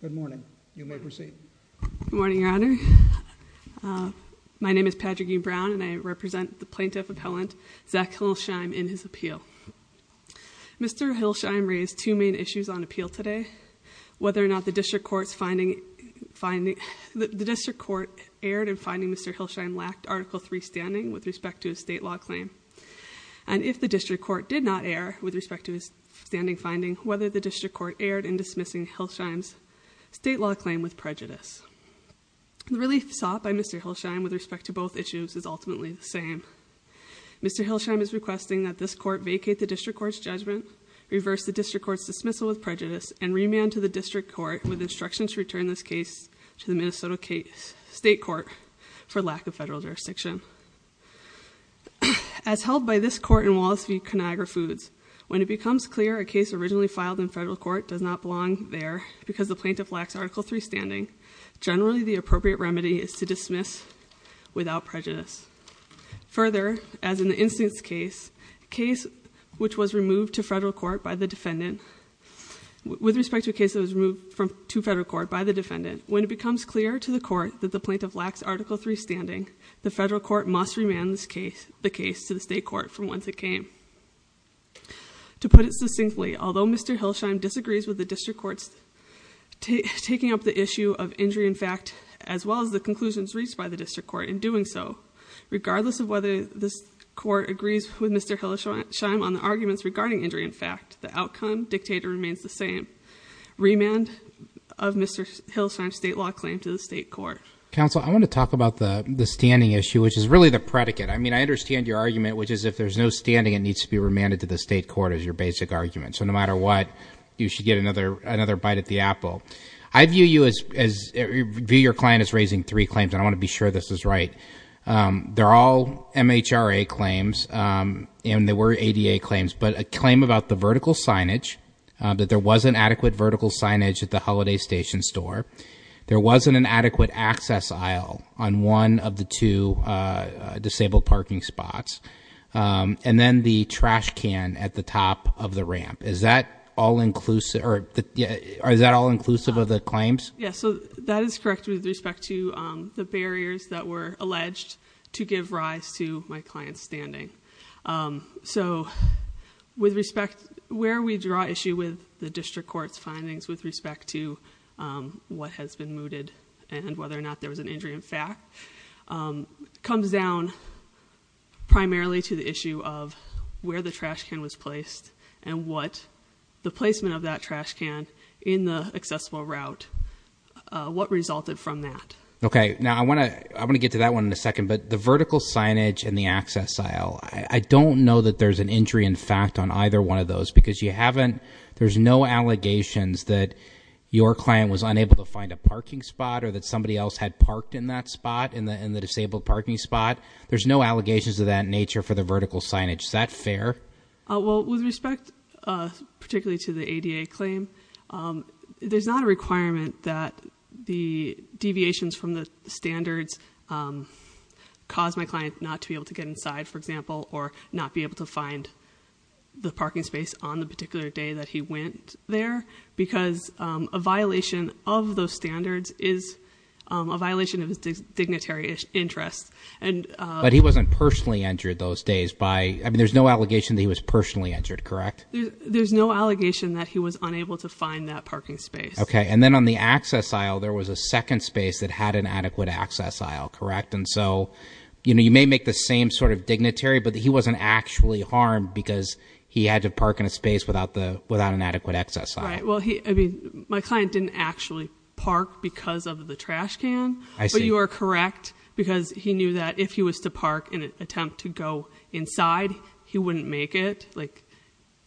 Good morning. You may proceed. Good morning, Your Honor. My name is Patrick E. Brown and I represent the plaintiff appellant Zach Hillesheim in his appeal. Mr. Hillesheim raised two main issues on appeal today. Whether or not the district court's finding finding, the district court erred in finding Mr. Hillesheim lacked Article III standing with respect to his state law claim. And if the district court did not err with respect to his standing finding, whether the district court erred in dismissing Hillesheim's state law claim with prejudice. The relief sought by Mr. Hillesheim with respect to both issues is ultimately the same. Mr. Hillesheim is requesting that this court vacate the district court's judgment, reverse the district court's dismissal with prejudice, and remand to the district court with instructions to return this case to the Minnesota State Court for lack of federal jurisdiction. As held by this court in Wallace v. Conagra Foods, when it becomes clear a case originally filed in federal court does not belong there because the plaintiff lacks Article III standing, generally the appropriate remedy is to dismiss without prejudice. Further, as in the instance case, case which was removed to federal court by the defendant with respect to a case that was removed to federal court by the defendant, when it becomes clear to the court that the plaintiff lacks Article III standing, the federal court must remand the case to the state court from whence it came. To put it succinctly, although Mr. Hillesheim disagrees with the district court's taking up the issue of injury in fact as well as the conclusions reached by the district court in doing so, regardless of whether this court agrees with Mr. Hillesheim on the arguments regarding injury in fact, the outcome, dictator, remains the same. Remand of Mr. Hillesheim's state law claim to the state court. Counsel, I want to talk about the standing issue, which is really the predicate. I mean, I understand your argument, which is if there's no standing, it needs to be remanded to the state court is your basic argument. So no matter what, you should get another bite at the apple. I view you as, view your client as raising three claims, and I want to be sure this is right. They're all MHRA claims, and they were ADA claims, but a claim about the vertical signage, that there wasn't adequate vertical signage at the Holiday Station store, there wasn't an adequate access aisle on one of the two disabled parking spots, and then the trash can at the top of the ramp. Is that all inclusive, or is that all inclusive of the claims? That is correct with respect to the barriers that were alleged to give rise to my client's standing. With respect, where we draw issue with the district court's findings with respect to what has been mooted and whether or not there was an injury in fact, comes down primarily to the issue of where the trash can was placed, and what the placement of that trash can in the accessible route, what resulted from that. Okay, now I want to get to that one in a second, but the vertical signage and the access aisle, I don't know that there's an injury in fact on either one of those, because you haven't, there's no allegations that your client was unable to find a parking spot, or that in the disabled parking spot, there's no allegations of that nature for the vertical signage. Is that fair? With respect, particularly to the ADA claim, there's not a requirement that the deviations from the standards cause my client not to be able to get inside for example, or not be able to find the parking space on the particular day that he went there, because a violation of those standards is a violation of his dignitary interests. But he wasn't personally injured those days by, there's no allegation that he was personally injured, correct? There's no allegation that he was unable to find that parking space. Okay, and then on the access aisle, there was a second space that had an adequate access aisle, correct? And so you may make the same sort of dignitary, but he wasn't actually harmed because he had to park in a space without an adequate access aisle. My client didn't actually park because of the trash can, but you are correct, because he knew that if he was to park in an attempt to go inside, he wouldn't make it.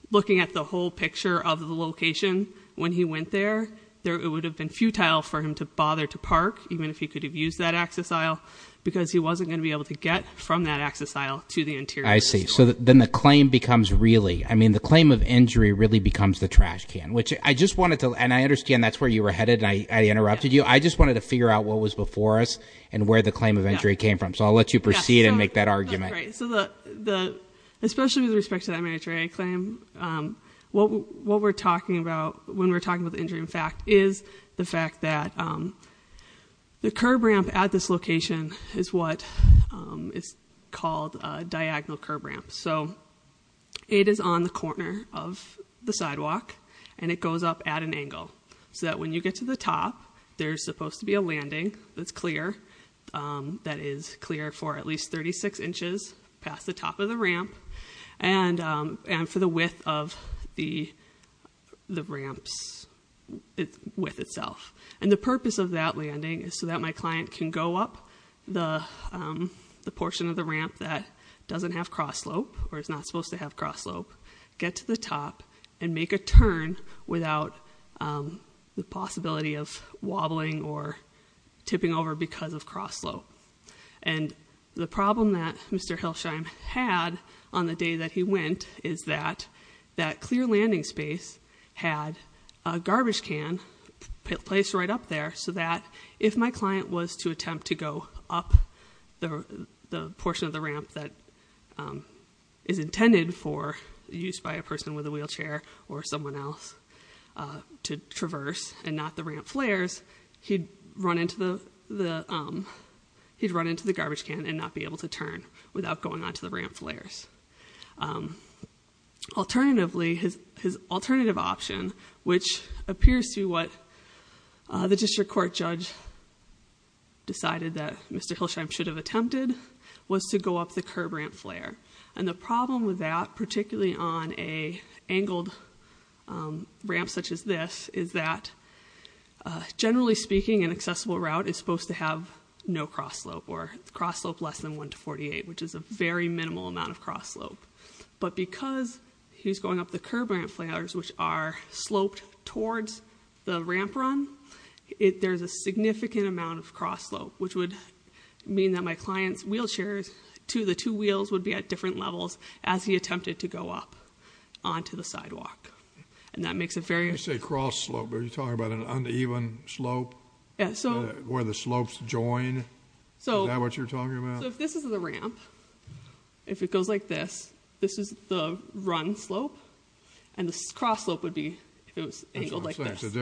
Looking at the whole picture of the location, when he went there, it would have been futile for him to bother to park, even if he could have used that access aisle, because he wasn't going to be able to get from that access aisle to the interior. I see. So then the claim becomes really, I mean the claim of injury really becomes the trash can, which I just saw where you were headed, and I interrupted you. I just wanted to figure out what was before us and where the claim of injury came from. So I'll let you proceed and make that argument. Especially with respect to that major injury claim, what we're talking about when we're talking about the injury in fact is the fact that the curb ramp at this location is what is called a diagonal curb ramp. So it is on the corner of the sidewalk, and it goes up at an angle so that when you get to the top, there's supposed to be a landing that's clear that is clear for at least 36 inches past the top of the ramp, and for the width of the ramp's width itself. And the purpose of that landing is so that my client can go up the portion of the ramp that doesn't have cross slope or is not supposed to have cross slope, get to the top, and make a turn without the possibility of wobbling or tipping over because of cross slope. And the problem that Mr. Hilsheim had on the day that he went is that clear landing space had a garbage can placed right up there so that if my client was to attempt to go up the portion of the ramp that is intended for use by a person with a wheelchair or someone else to traverse and not the ramp flares, he'd run into the garbage can and not be able to turn without going onto the ramp flares. Alternatively, his alternative option, which appears to be what the district court judge decided that Mr. Hilsheim should have attempted, was to go up the curb ramp flare. And the problem with that, particularly on an angled ramp such as this, is that generally speaking, an accessible route is supposed to have no cross slope or cross slope less than 1 to 48, which is a very minimal amount of cross slope. But because he's going up the curb ramp flares, which are sloped towards the ramp run, there's a significant amount of cross slope, which would mean that my client's wheelchairs, the two wheels, would be at different levels as he attempted to go up onto the sidewalk. And that makes it very... You say cross slope. Are you talking about an uneven slope? Where the slopes join? Is that what you're talking about? So if this is the ramp, if it goes like this, this is the run slope, and the cross slope would be angled like this. It's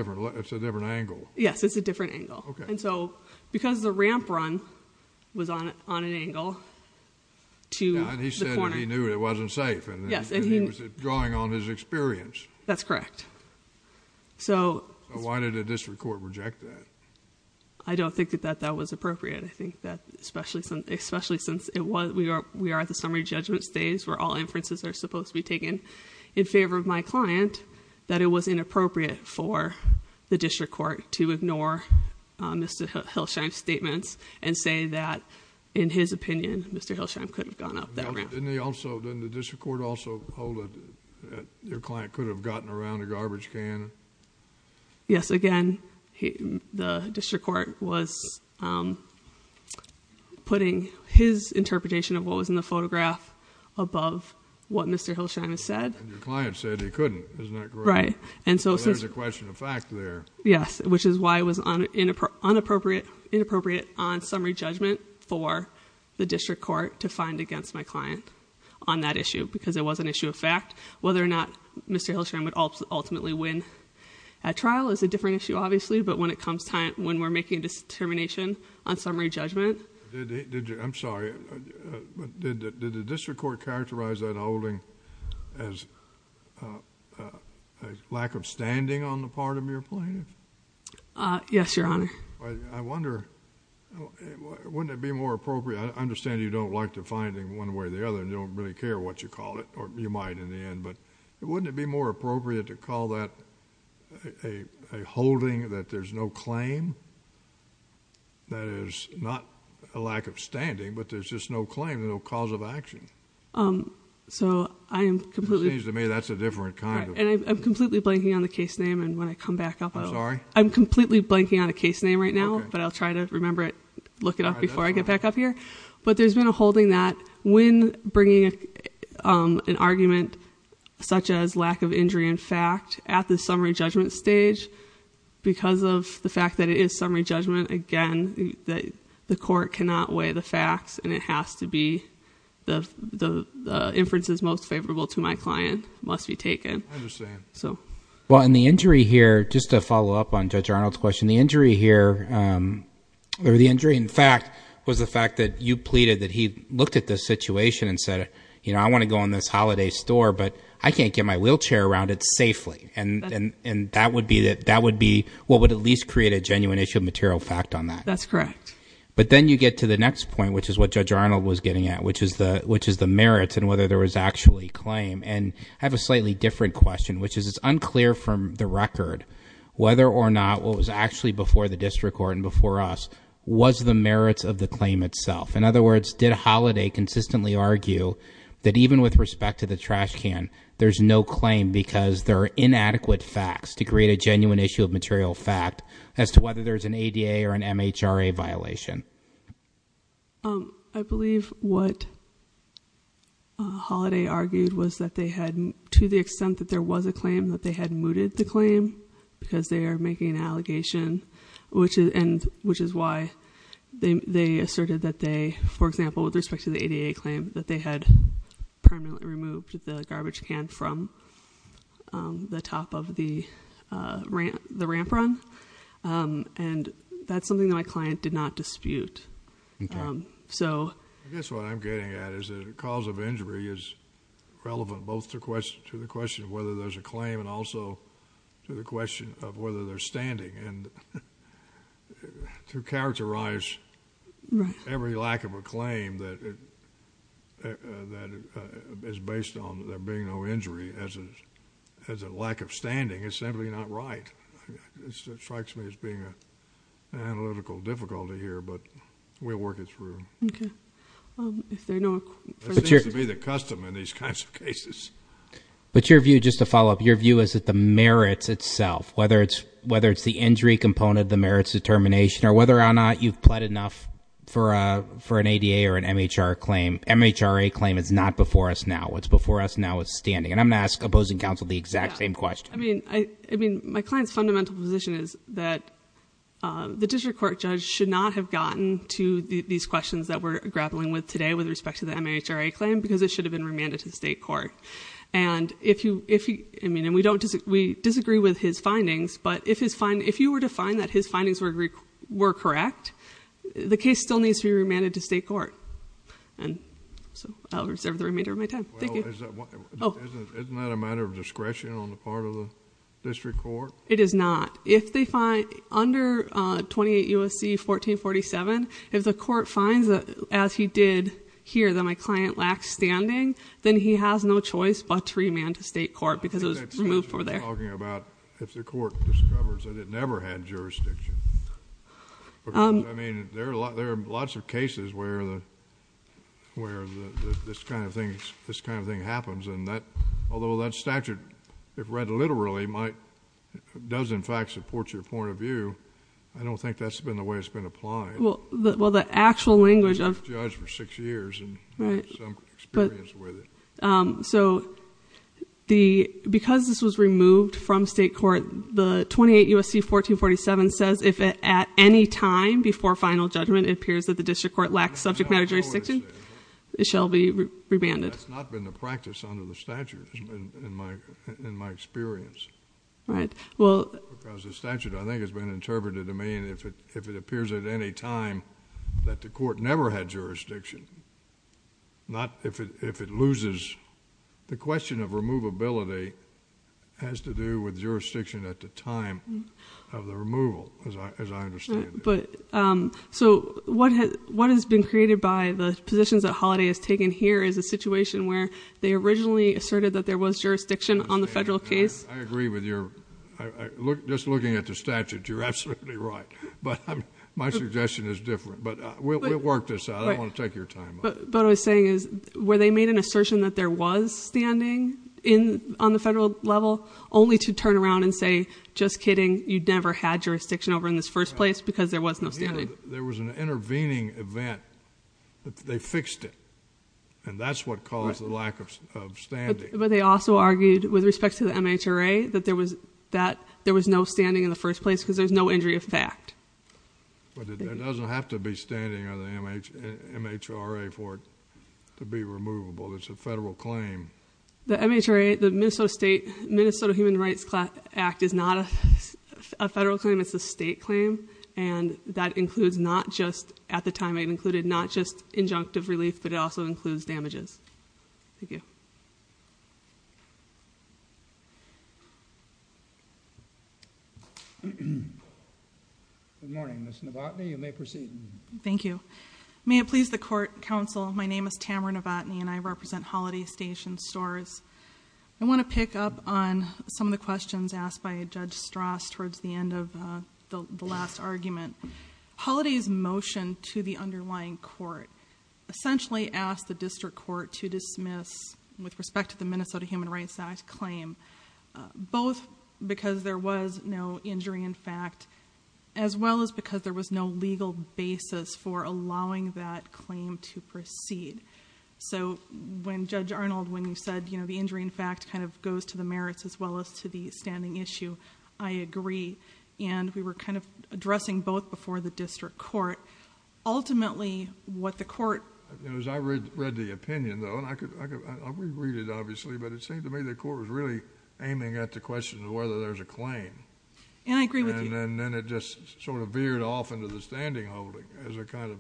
a different angle. Yes, it's a different angle. Because the ramp run was on an angle to the corner... He knew it wasn't safe. He was drawing on his experience. That's correct. Why did the district court reject that? I don't think that that was appropriate. I think that especially since we are at the summary judgment stage where all inferences are supposed to be taken in favor of my client, that it was inappropriate for the district court to ignore Mr. Hilsheim's statements and say that in his opinion, Mr. Hilsheim couldn't have gone up that ramp. Didn't the district court also hold that your client could have gotten around a garbage can? Yes, again, the district court was putting his interpretation of what was in the photograph above what Mr. Hilsheim said. And your client said he couldn't. Isn't that correct? There's a question of fact there. Yes, which is why it was inappropriate on summary judgment for the district court to find against my client on that issue. Because it was an issue of fact. Whether or not Mr. Hilsheim would ultimately win at trial is a different issue, obviously. But when it comes time when we're making a determination on summary judgment... I'm sorry. Did the district court characterize that holding as a lack of standing on the part of your client? Yes, Your Honor. I wonder, wouldn't it be more appropriate? I understand you don't like the finding one way or the other and you don't really care what you call it. Or you might in the end. But wouldn't it be more appropriate to call that a holding that there's no claim? That is not a lack of standing, but there's just no claim, no cause of action. So I am completely... And I'm completely blanking on the case name and when I come back up... I'm completely blanking on a case name right now, but I'll try to remember it, look it up before I get back up here. But there's been a holding that when bringing an argument such as lack of injury in fact at the summary judgment stage, because of the fact that it is summary judgment, again, the court cannot weigh the facts and it has to be the inferences most favorable to my client must be taken. I understand. Just to follow up on Judge Arnold's question, the injury here or the injury in fact was the fact that you pleaded that he looked at the situation and said, I want to go in this holiday store, but I can't get my wheelchair around it safely. And that would be what would at least create a genuine issue of material fact on that. That's correct. But then you get to the next point, which is what Judge Arnold was getting at, which is the merits and whether there was actually claim. And I have a slightly different question, which is it's unclear from the record whether or not what was actually before the district court and before us was the merits of the claim itself. In other words, did Holiday consistently argue that even with respect to the trash can, there's no claim because there are inadequate facts to create a genuine issue of material fact as to whether there's an ADA or an MHRA violation. I believe what Holiday argued was that they had to the extent that there was a claim that they had mooted the claim because they are making an allegation, which is why they asserted that they, for example, with respect to the ADA claim that they had permanently removed the garbage can from the top of the ramp run. And that's something that my client did not dispute. I guess what I'm getting at is the cause of injury is relevant both to the question of whether there's a claim and also to the question of whether there's standing and to characterize every lack of a claim that is based on there being no injury as a lack of standing is simply not right. It strikes me as being an analytical difficulty here, but we'll work it through. Okay. It seems to be the custom in these kinds of cases. Just to follow up, your view is that the merits itself, whether it's the injury component, the merits determination or whether or not you've pled enough for an ADA or an MHRA claim, MHRA claim is not before us now. What's before us now is standing. I'm going to ask opposing counsel the exact same question. My client's fundamental position is that the district court judge should not have gotten to these questions that we're grappling with today with respect to the MHRA claim because it should have been remanded to the state court. We disagree with his findings, but if you were to find that his findings were correct, the case still needs to be remanded to state court. I'll reserve the remainder of my time. Isn't that a matter of discretion on the part of the district court? It is not. Under 28 U.S.C. 1447, if the court finds that, as he did here, that my client lacks standing, then he has no choice but to remand to state court because it was removed from there. I think that's what you're talking about. If the court discovers that it never had jurisdiction. There are lots of cases where this kind of thing happens. Although that statute, if read literally, does in fact support your point of view, I don't think that's been the way it's been applied. Well, the actual language of... I've been a judge for six years and have some experience with it. Because this was removed from state court, the 28 U.S.C. 1447 says if at any time before final judgment it appears that the district court lacks subject matter jurisdiction, it shall be remanded. That's not been the practice under the statute in my experience. Because the statute I think has been interpreted to mean if it appears at any time that the court never had jurisdiction, not if it loses. The question of removability has to do with jurisdiction at the time of the removal, as I understand it. So what has been created by the positions that Holiday has taken here is a situation where they originally asserted that there was jurisdiction on the federal case. I agree with your... Just looking at the statute, you're absolutely right. But my suggestion is different. But we'll work this out. I don't want to take your time. But what I was saying is where they made an assertion that there was standing on the federal level, only to turn around and say, just kidding, you never had there was no standing. There was an intervening event. They fixed it. And that's what caused the lack of standing. But they also argued with respect to the MHRA that there was no standing in the first place because there's no injury of fact. But it doesn't have to be standing on the MHRA for it to be removable. It's a federal claim. The MHRA, the Minnesota Human Rights Act is not a federal claim. It's a state claim. That includes not just, at the time I included, not just injunctive relief, but it also includes damages. Thank you. Good morning, Ms. Novotny. You may proceed. Thank you. May it please the court, counsel, my name is Tamara Novotny and I represent Holiday Station Stores. I want to pick up on some of the questions asked by Judge Strass towards the end of the last argument. Holiday's motion to the underlying court essentially asked the district court to dismiss with respect to the Minnesota Human Rights Act claim both because there was no injury in fact as well as because there was no legal basis for allowing that claim to proceed. So when Judge Arnold, when you said the injury in fact kind of goes to the merits as well as to the standing issue, I agree. And we were kind of addressing both before the district court. Ultimately, what the court As I read the opinion though, and I'll reread it obviously, but it seemed to me the court was really aiming at the question of whether there's a claim. And I agree with you. And then it just sort of veered off into the standing holding as a kind of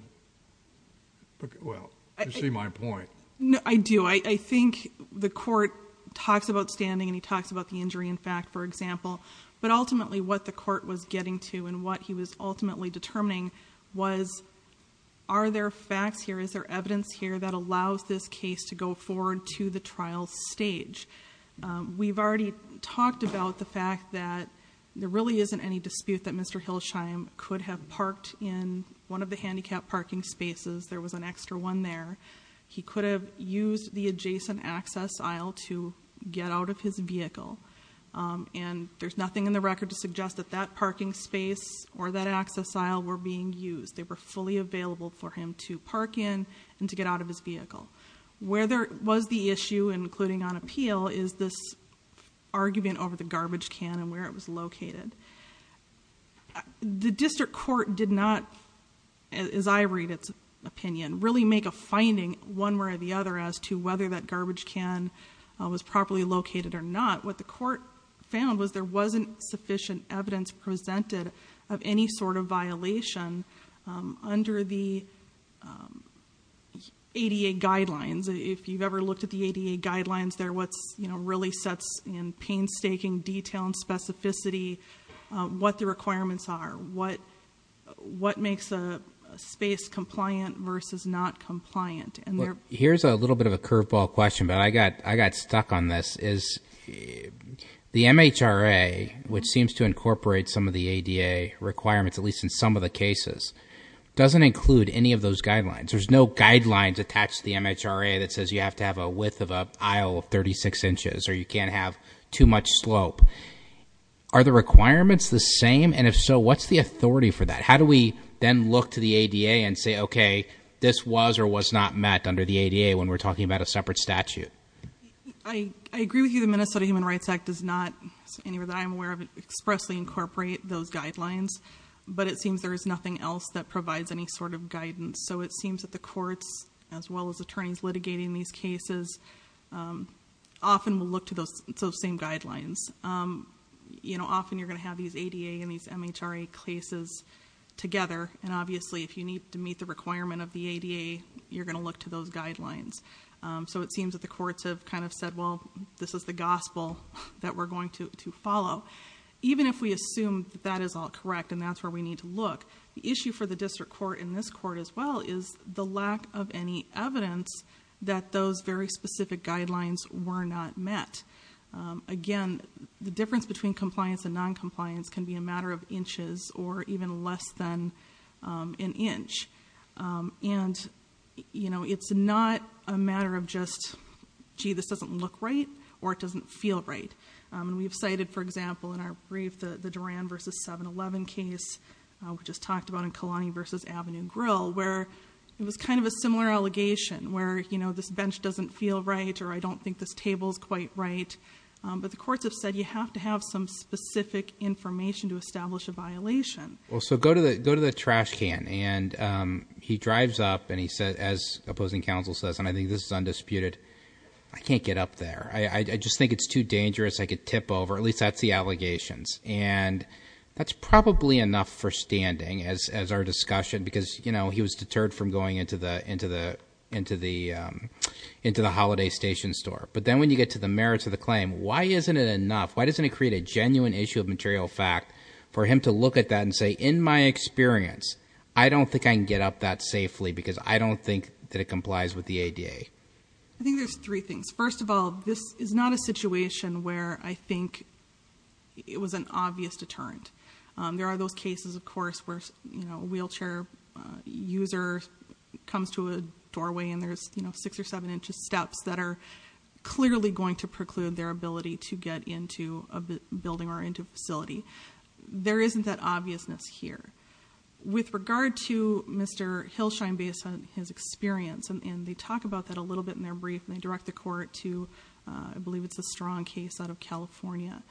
well, you see my point. No, I do. I think the court talks about standing and he talks about the injury in fact, for example. But ultimately what the court was getting to and what he was ultimately determining was are there facts here? Is there evidence here that allows this case to go forward to the trial stage? We've already talked about the fact that there really isn't any dispute that Mr. Hilsheim could have parked in one of the handicapped parking spaces. There was an extra one there. He could have used the adjacent access aisle to get out of his vehicle. And there's nothing in the record to suggest that that parking space or that access aisle were being used. They were fully available for him to park in and to get out of his vehicle. Where there was the issue, including on appeal, is this argument over the garbage can and where it was located. The district court did not as I read its finding one way or the other as to whether that garbage can was properly located or not. What the court found was there wasn't sufficient evidence presented of any sort of violation under the ADA guidelines. If you've ever looked at the ADA guidelines, they're what really sets in painstaking detail and specificity what the requirements are. What makes a space compliant versus not compliant. Here's a little bit of a curveball question, but I got stuck on this. The MHRA, which seems to incorporate some of the ADA requirements at least in some of the cases, doesn't include any of those guidelines. There's no guidelines attached to the MHRA that says you have to have a width of an aisle of 36 inches or you can't have too much slope. Are the requirements the same? And if so, what's the authority for that? How do we then look to the ADA and say, okay, this was or was not met under the ADA when we're talking about a separate statute? I agree with you. The Minnesota Human Rights Act does not, anywhere that I'm aware of, expressly incorporate those guidelines. But it seems there is nothing else that provides any sort of guidance. It seems that the courts, as well as attorneys litigating these cases, often will look to those same guidelines. Often you're going to have these ADA and these MHRA cases together, and obviously if you need to meet the requirement of the ADA, you're going to look to those guidelines. So it seems that the courts have kind of said, well, this is the gospel that we're going to follow. Even if we assume that that is all correct and that's where we need to look, the issue for the district court and this court as well is the lack of any evidence that those very specific guidelines were not met. Again, the difference between compliance and non-compliance can be a matter of inches or even less than an inch. And it's not a matter of just, gee, this doesn't look right or it doesn't feel right. We've cited, for example, in our brief the Duran v. 7-11 case we just talked about in Kalani v. Avenue Grill, where it was kind of a similar allegation, where this bench doesn't feel right or I don't think this table is quite right. But the courts have said you have to have some specific information to establish a violation. Go to the trash can and he drives up and he says, as opposing counsel says, and I think this is undisputed, I can't get up there. I just think it's too dangerous. I could tip over. At least that's the allegations. And that's probably enough for standing as our discussion because he was deterred from going into the holiday station store. But then when you get to the merits of the claim, why isn't it enough? Why doesn't it create a genuine issue of material fact for him to look at that and say, in my experience, I don't think I can get up that safely because I don't think that it complies with the ADA. I think there's three things. First of all, this is not a situation where I think it was an obvious deterrent. There are those cases, of course, where a wheelchair user comes to a doorway and there's six or seven inches steps that are clearly going to preclude their ability to get into a building or into a facility. There isn't that obviousness here. With regard to Mr. Hilsheim based on his experience, and they talk about that a little bit in their brief, and they direct the court to, I believe it's a strong case out of California,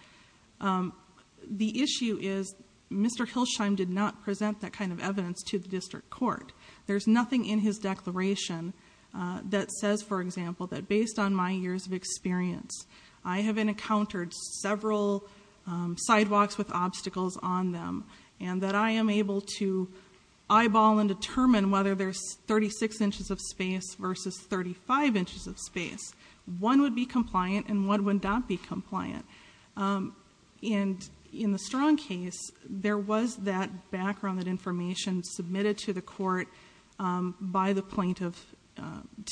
the issue is Mr. Hilsheim did not present that kind of evidence to the district court. There's nothing in his declaration that says, for example, that based on my years of experience, I have encountered several sidewalks with obstacles on them, and that I am able to eyeball and determine whether there's 36 inches of space versus 35 inches of space. One would be compliant and one would not be compliant. In the strong case, there was that background, that information submitted to the court by the plaintiff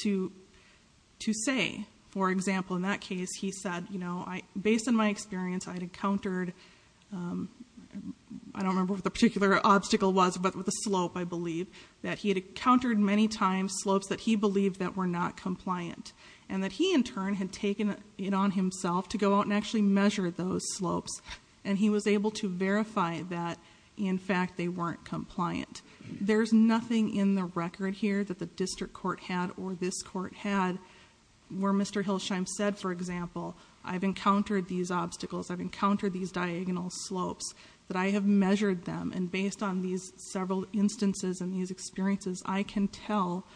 to say, for example, in that case, he said based on my experience, I had encountered, I don't remember what the particular obstacle was, but with a slope, I believe, that he had encountered many times slopes that he believed that were not compliant, and that he in turn had taken it on himself to go out and actually measure those slopes, and he was able to verify that in fact, they weren't compliant. There's nothing in the record here that the district court had, or this court had, where Mr. Hilsheim said, for example, I've encountered these obstacles, I've encountered these diagonal slopes, that I have measured them, and based on these several instances and these experiences, I can tell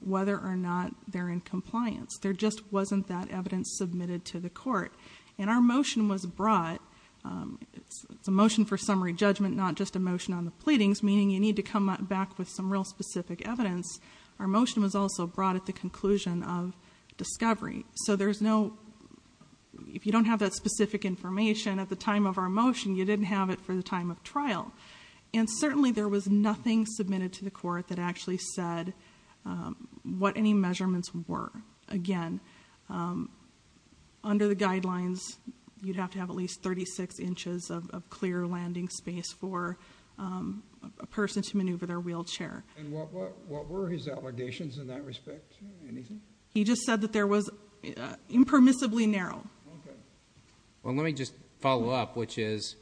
whether or not they're in compliance. There just wasn't that evidence submitted to the court. And our motion was brought, it's a motion for summary judgment, not just a motion on the pleadings, meaning you need to come back with some real specific evidence. Our motion was also brought at the conclusion of discovery. So there's no, if you don't have that specific information at the time of our motion, you didn't have it for the time of trial. And certainly there was nothing submitted to the court that actually said what any measurements were. Again, under the guidelines, you'd have to have at least 36 inches of clear landing space for a person to maneuver their wheelchair. And what were his allegations in that respect? Anything? He just said that there was impermissibly narrow. Well, let me just follow up, which is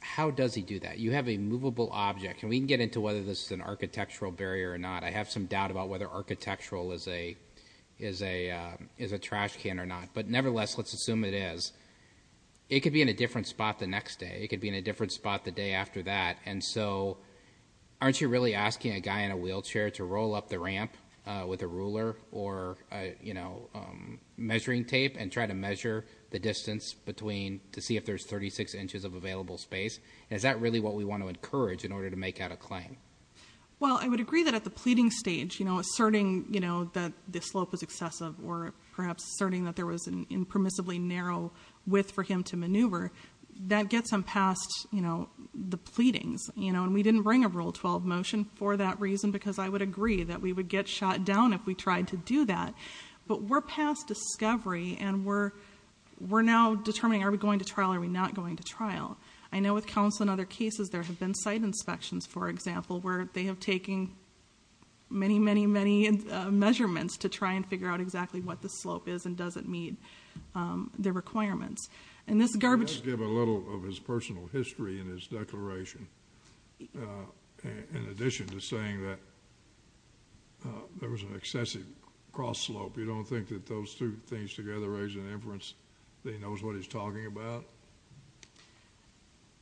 how does he do that? You have a movable object, and we can get into whether this is an architectural barrier or not. I have some doubt about whether architectural is a trash can or not. But nevertheless, let's assume it is. It could be in a different spot the next day. It could be in a different spot the day after that. And so aren't you really asking a guy in a wheelchair to roll up the ramp with a ruler or measuring tape and try to measure the distance between to see if there's 36 inches of available space? Is that really what we want to encourage in order to make out a claim? Well, I would agree that at the pleading stage, asserting that the slope is excessive or perhaps asserting that there was an impermissibly narrow width for him to maneuver, that gets them past the pleadings. And we didn't bring a Rule 12 motion for that reason because I would agree that we would get shot down if we tried to do that. But we're past discovery and we're now determining are we going to trial or are we not going to trial? I know with counsel and other cases, there have been site inspections, for example, where they have taken many, many, many measurements to try and figure out exactly what the slope is and does it meet the requirements. And this garbage... Let's give a little of his personal history in his declaration in addition to saying that there was an excessive cross slope. You don't think that those two things together raise an inference that he knows what he's talking about?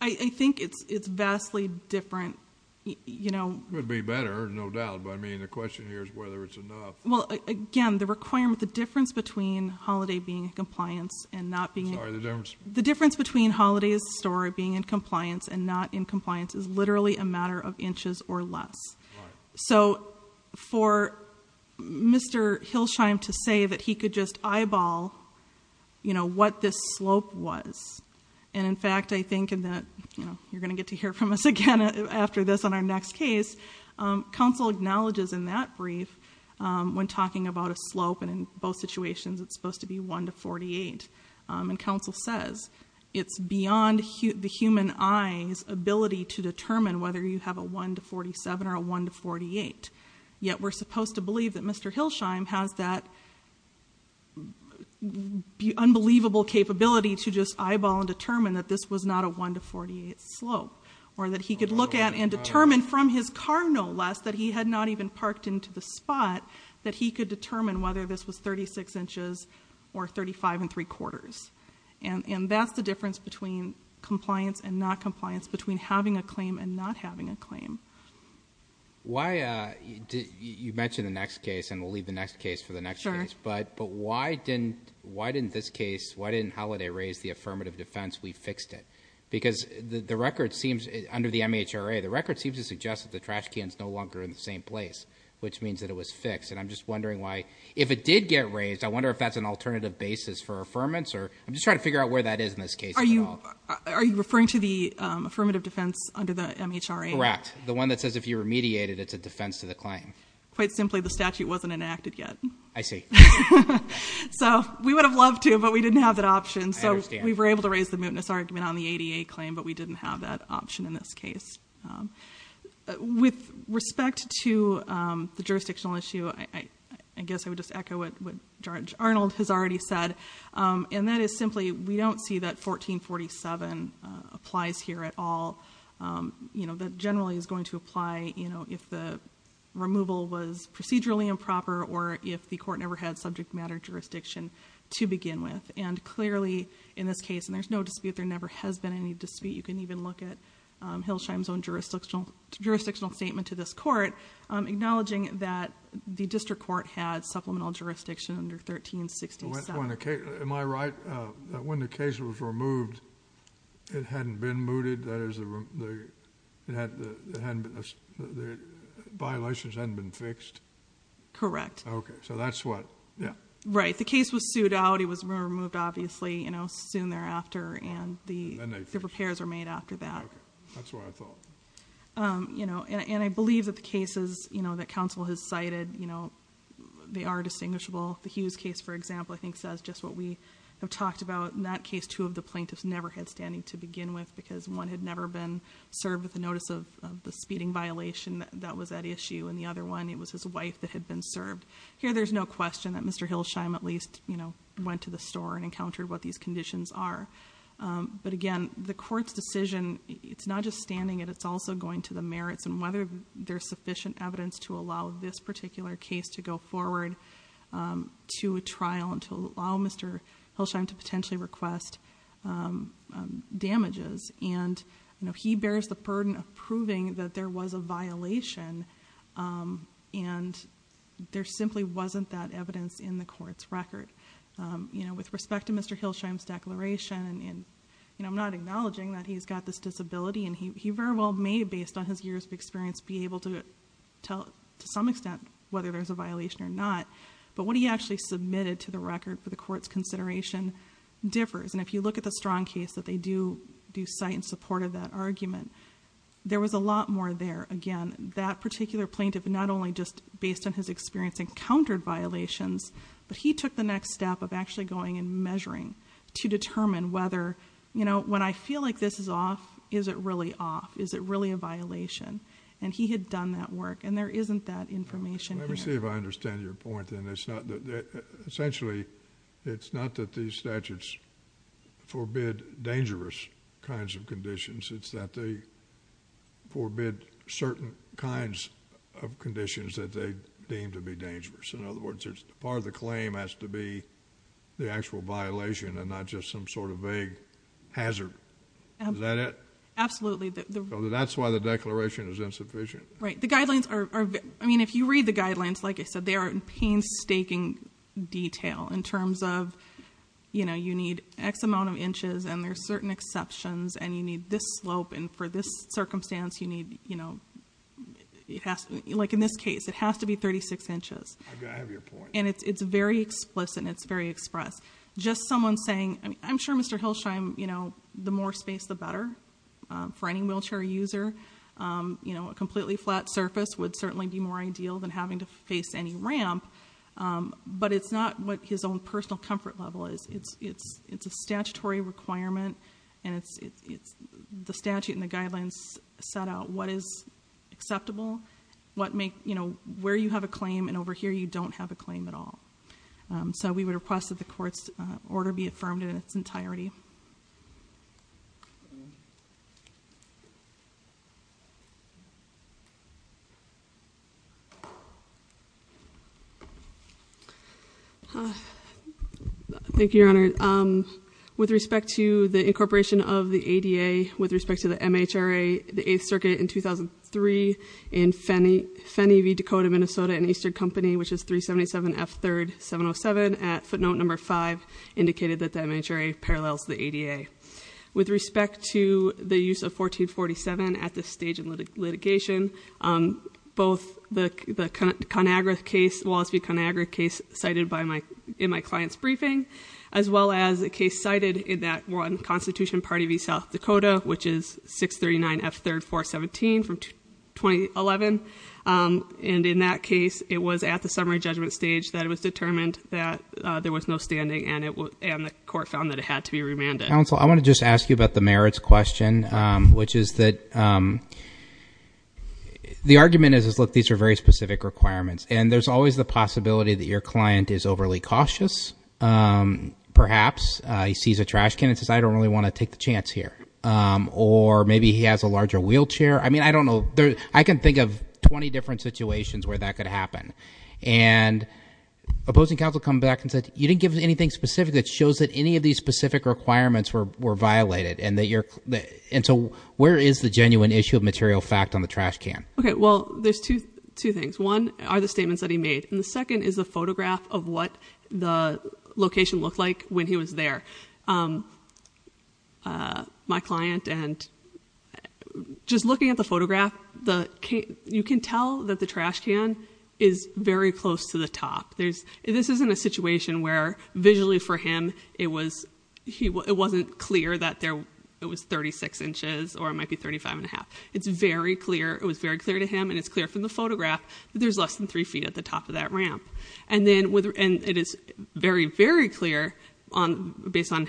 I think it's vastly different. You know... It would be better, no doubt, but I mean the question here is whether it's enough. Well, again, the requirement, the difference between Holiday being in compliance and not being... Sorry, the difference? The difference between Holiday's story being in compliance and not in compliance is literally a matter of inches or less. Right. So for Mr. Hilsheim to say that he could just eyeball what this slope was and in fact I think you're going to get to hear from us again after this on our next case. Counsel acknowledges in that brief when talking about a slope and in both situations it's supposed to be 1 to 48. And counsel says it's beyond the human eye's ability to determine whether you have a 1 to 47 or a 1 to 48. Yet we're supposed to believe that Mr. Hilsheim has that unbelievable capability to just look at a 1 to 48 slope. Or that he could look at and determine from his car no less that he had not even parked into the spot that he could determine whether this was 36 inches or 35 and 3 quarters. And that's the difference between compliance and not compliance, between having a claim and not having a claim. Why... You mentioned the next case and we'll leave the next case for the next case, but why didn't this case, why didn't Halliday raise the affirmative defense, we fixed it? Because the record seems under the MHRA, the record seems to suggest that the trash can's no longer in the same place, which means that it was fixed. And I'm just wondering why, if it did get raised, I wonder if that's an alternative basis for affirmance or... I'm just trying to figure out where that is in this case. Are you referring to the affirmative defense under the MHRA? Correct. The one that says if you remediated it's a defense to the claim. Quite simply the statute wasn't enacted yet. I see. So, we would have loved to, but we didn't have that option. I understand. We were able to raise the mootness argument on the ADA claim, but we didn't have that option in this case. With respect to the jurisdictional issue, I guess I would just echo what Judge Arnold has already said, and that is simply, we don't see that 1447 applies here at all. You know, that generally is going to apply, you know, if the removal was procedurally improper or if the court never had subject matter jurisdiction to begin with. And clearly, in this case, and there's no dispute, there never has been any dispute. You can even look at Hilsheim's own jurisdictional statement to this court acknowledging that the district court had supplemental jurisdiction under 1367. Am I right that when the case was removed it hadn't been mooted? That is, the violations hadn't been fixed? Correct. So that's what... Right. The case was sued out. It was removed, obviously, you know, soon thereafter, and the repairs were made after that. That's what I thought. You know, and I believe that the cases that counsel has cited, you know, they are distinguishable. The Hughes case, for example, I think says just what we have talked about. In that case, two of the plaintiffs never had standing to begin with because one had never been served with the speeding violation that was at issue and the other one, it was his wife that had been served. Here there's no question that Mr. Hilsheim at least, you know, went to the store and encountered what these conditions are. But again, the court's decision, it's not just standing, it's also going to the merits and whether there's sufficient evidence to allow this particular case to go forward to a trial and to allow Mr. Hilsheim to potentially request damages, and you know, he bears the burden of proving that there was a violation and there simply wasn't that evidence in the court's record. With respect to Mr. Hilsheim's declaration and I'm not acknowledging that he's got this disability and he very well may, based on his years of experience, be able to tell to some extent whether there's a violation or not, but what he actually submitted to the record for the court's consideration differs, and if you look at the Strong case that they do cite in support of that argument, there was a lot more there. Again, that particular plaintiff not only just, based on his experience, encountered violations, but he took the next step of actually going and measuring to determine whether, you know, when I feel like this is off, is it really off? Is it really a violation? And he had done that work, and there isn't that information in it. Let me see if I understand your point and it's not that, essentially, it's not that these statutes forbid dangerous kinds of conditions, it's that they forbid certain kinds of conditions that they deem to be dangerous. In other words, part of the claim has to be the actual violation and not just some sort of vague hazard. Is that it? Absolutely. That's why the declaration is insufficient. Right. The guidelines are, I mean, if you read the guidelines, like I said, they are in painstaking detail in what they're saying. They're saying, you know, you need X amount of inches, and there are certain exceptions, and you need this slope, and for this circumstance, you need, you know, like in this case, it has to be 36 inches. I have your point. And it's very explicit and it's very express. Just someone saying, I'm sure Mr. Hilsheim, you know, the more space the better for any wheelchair user. You know, a completely flat surface would certainly be more ideal than having to face any ramp, but it's not what his own personal comfort level is. It's a statutory requirement, and it's the statute and the guidelines set out what is acceptable, you know, where you have a claim, and over here you don't have a claim at all. So we would request that the court's order be affirmed in its entirety. Thank you, Your Honor. With respect to the incorporation of the ADA, with respect to the MHRA, the 8th Circuit in 2003 in Fenney v. Dakota, Minnesota and Eastern Company, which is 377 F. 3rd 707 at footnote number 5, indicated that the MHRA parallels the ADA. With respect to the use of 1447 at this stage of litigation, both the Wallace v. ConAgra case cited in my client's briefing, as well as a case cited in that one Constitution Party v. South Dakota, which is 639 F. 3rd 417 from 2011. And in that case, it was at the summary judgment stage that it was determined that there was no standing, and the court found that it had to be remanded. Counsel, I want to just ask you about the merits question, which is that the argument is look, these are very specific requirements, and there's always the possibility that your client is overly cautious. Perhaps he sees a trash can and says, I don't really want to take the chance here. Or maybe he has a larger wheelchair. I mean, I don't know. I can think of 20 different situations where that could happen. Opposing counsel come back and said, you didn't give anything specific that shows that any of these specific requirements were violated. Where is the genuine issue of material fact on the trash can? There's two things. One are the statements that he made, and the second is a photograph of what the location looked like when he was there. My client and just looking at the photograph, you can tell that the trash can is very close to the top. This isn't a situation where visually for him, it wasn't clear that it was 36 inches or it might be 35 and a half. It was very clear to him and it's clear from the photograph that there's less than 3 feet at the top of that ramp. It is very, very clear based on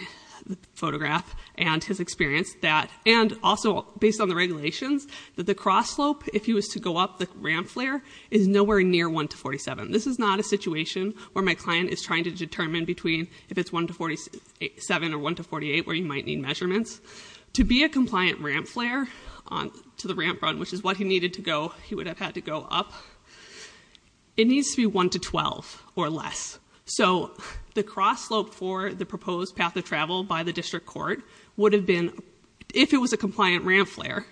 the photograph and his experience that, and also based on the regulations, that the cross slope, if he was to go up the ramp flare, is nowhere near 1 to 47. This is not a situation where my client is trying to determine between if it's 1 to 47 or 1 to 48 where you might need a ramp flare to the ramp run, which is what he needed to go. He would have had to go up. It needs to be 1 to 12 or less. So the cross slope for the proposed path of travel by the district court would have been, if it was a compliant ramp flare,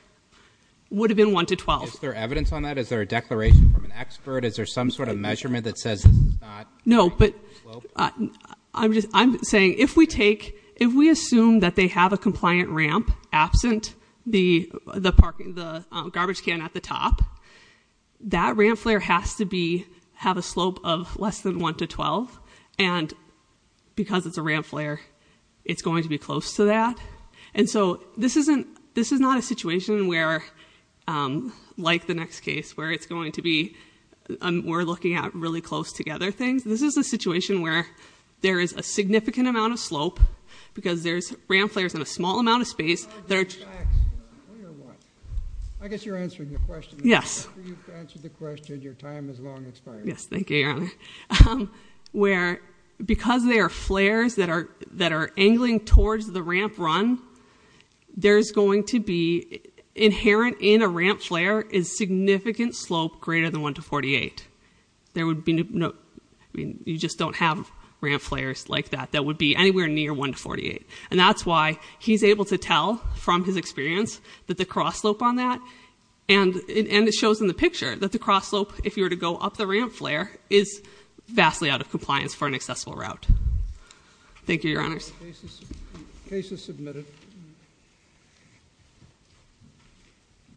would have been 1 to 12. Is there evidence on that? Is there a declaration from an expert? Is there some sort of measurement that says it's not? No, but I'm saying if we take, if we assume that they have a the garbage can at the top, that ramp flare has to be, have a slope of less than 1 to 12 and because it's a ramp flare, it's going to be close to that. And so this isn't, this is not a situation where like the next case where it's going to be, we're looking at really close together things. This is a situation where there is a significant amount of slope because there's ramp flares in a small amount of space. I guess you're answering the question. Yes. Your time has long expired. Yes, thank you, Your Honor. Where, because there are flares that are angling towards the ramp run, there's going to be, inherent in a ramp flare, is significant slope greater than 1 to 48. There would be no, you just don't have ramp flares like that, that would be anywhere near 1 to 48. I was able to tell from his experience that the cross slope on that, and it shows in the picture that the cross slope, if you were to go up the ramp flare, is vastly out of compliance for an accessible route. Thank you, Your Honors. Case is submitted.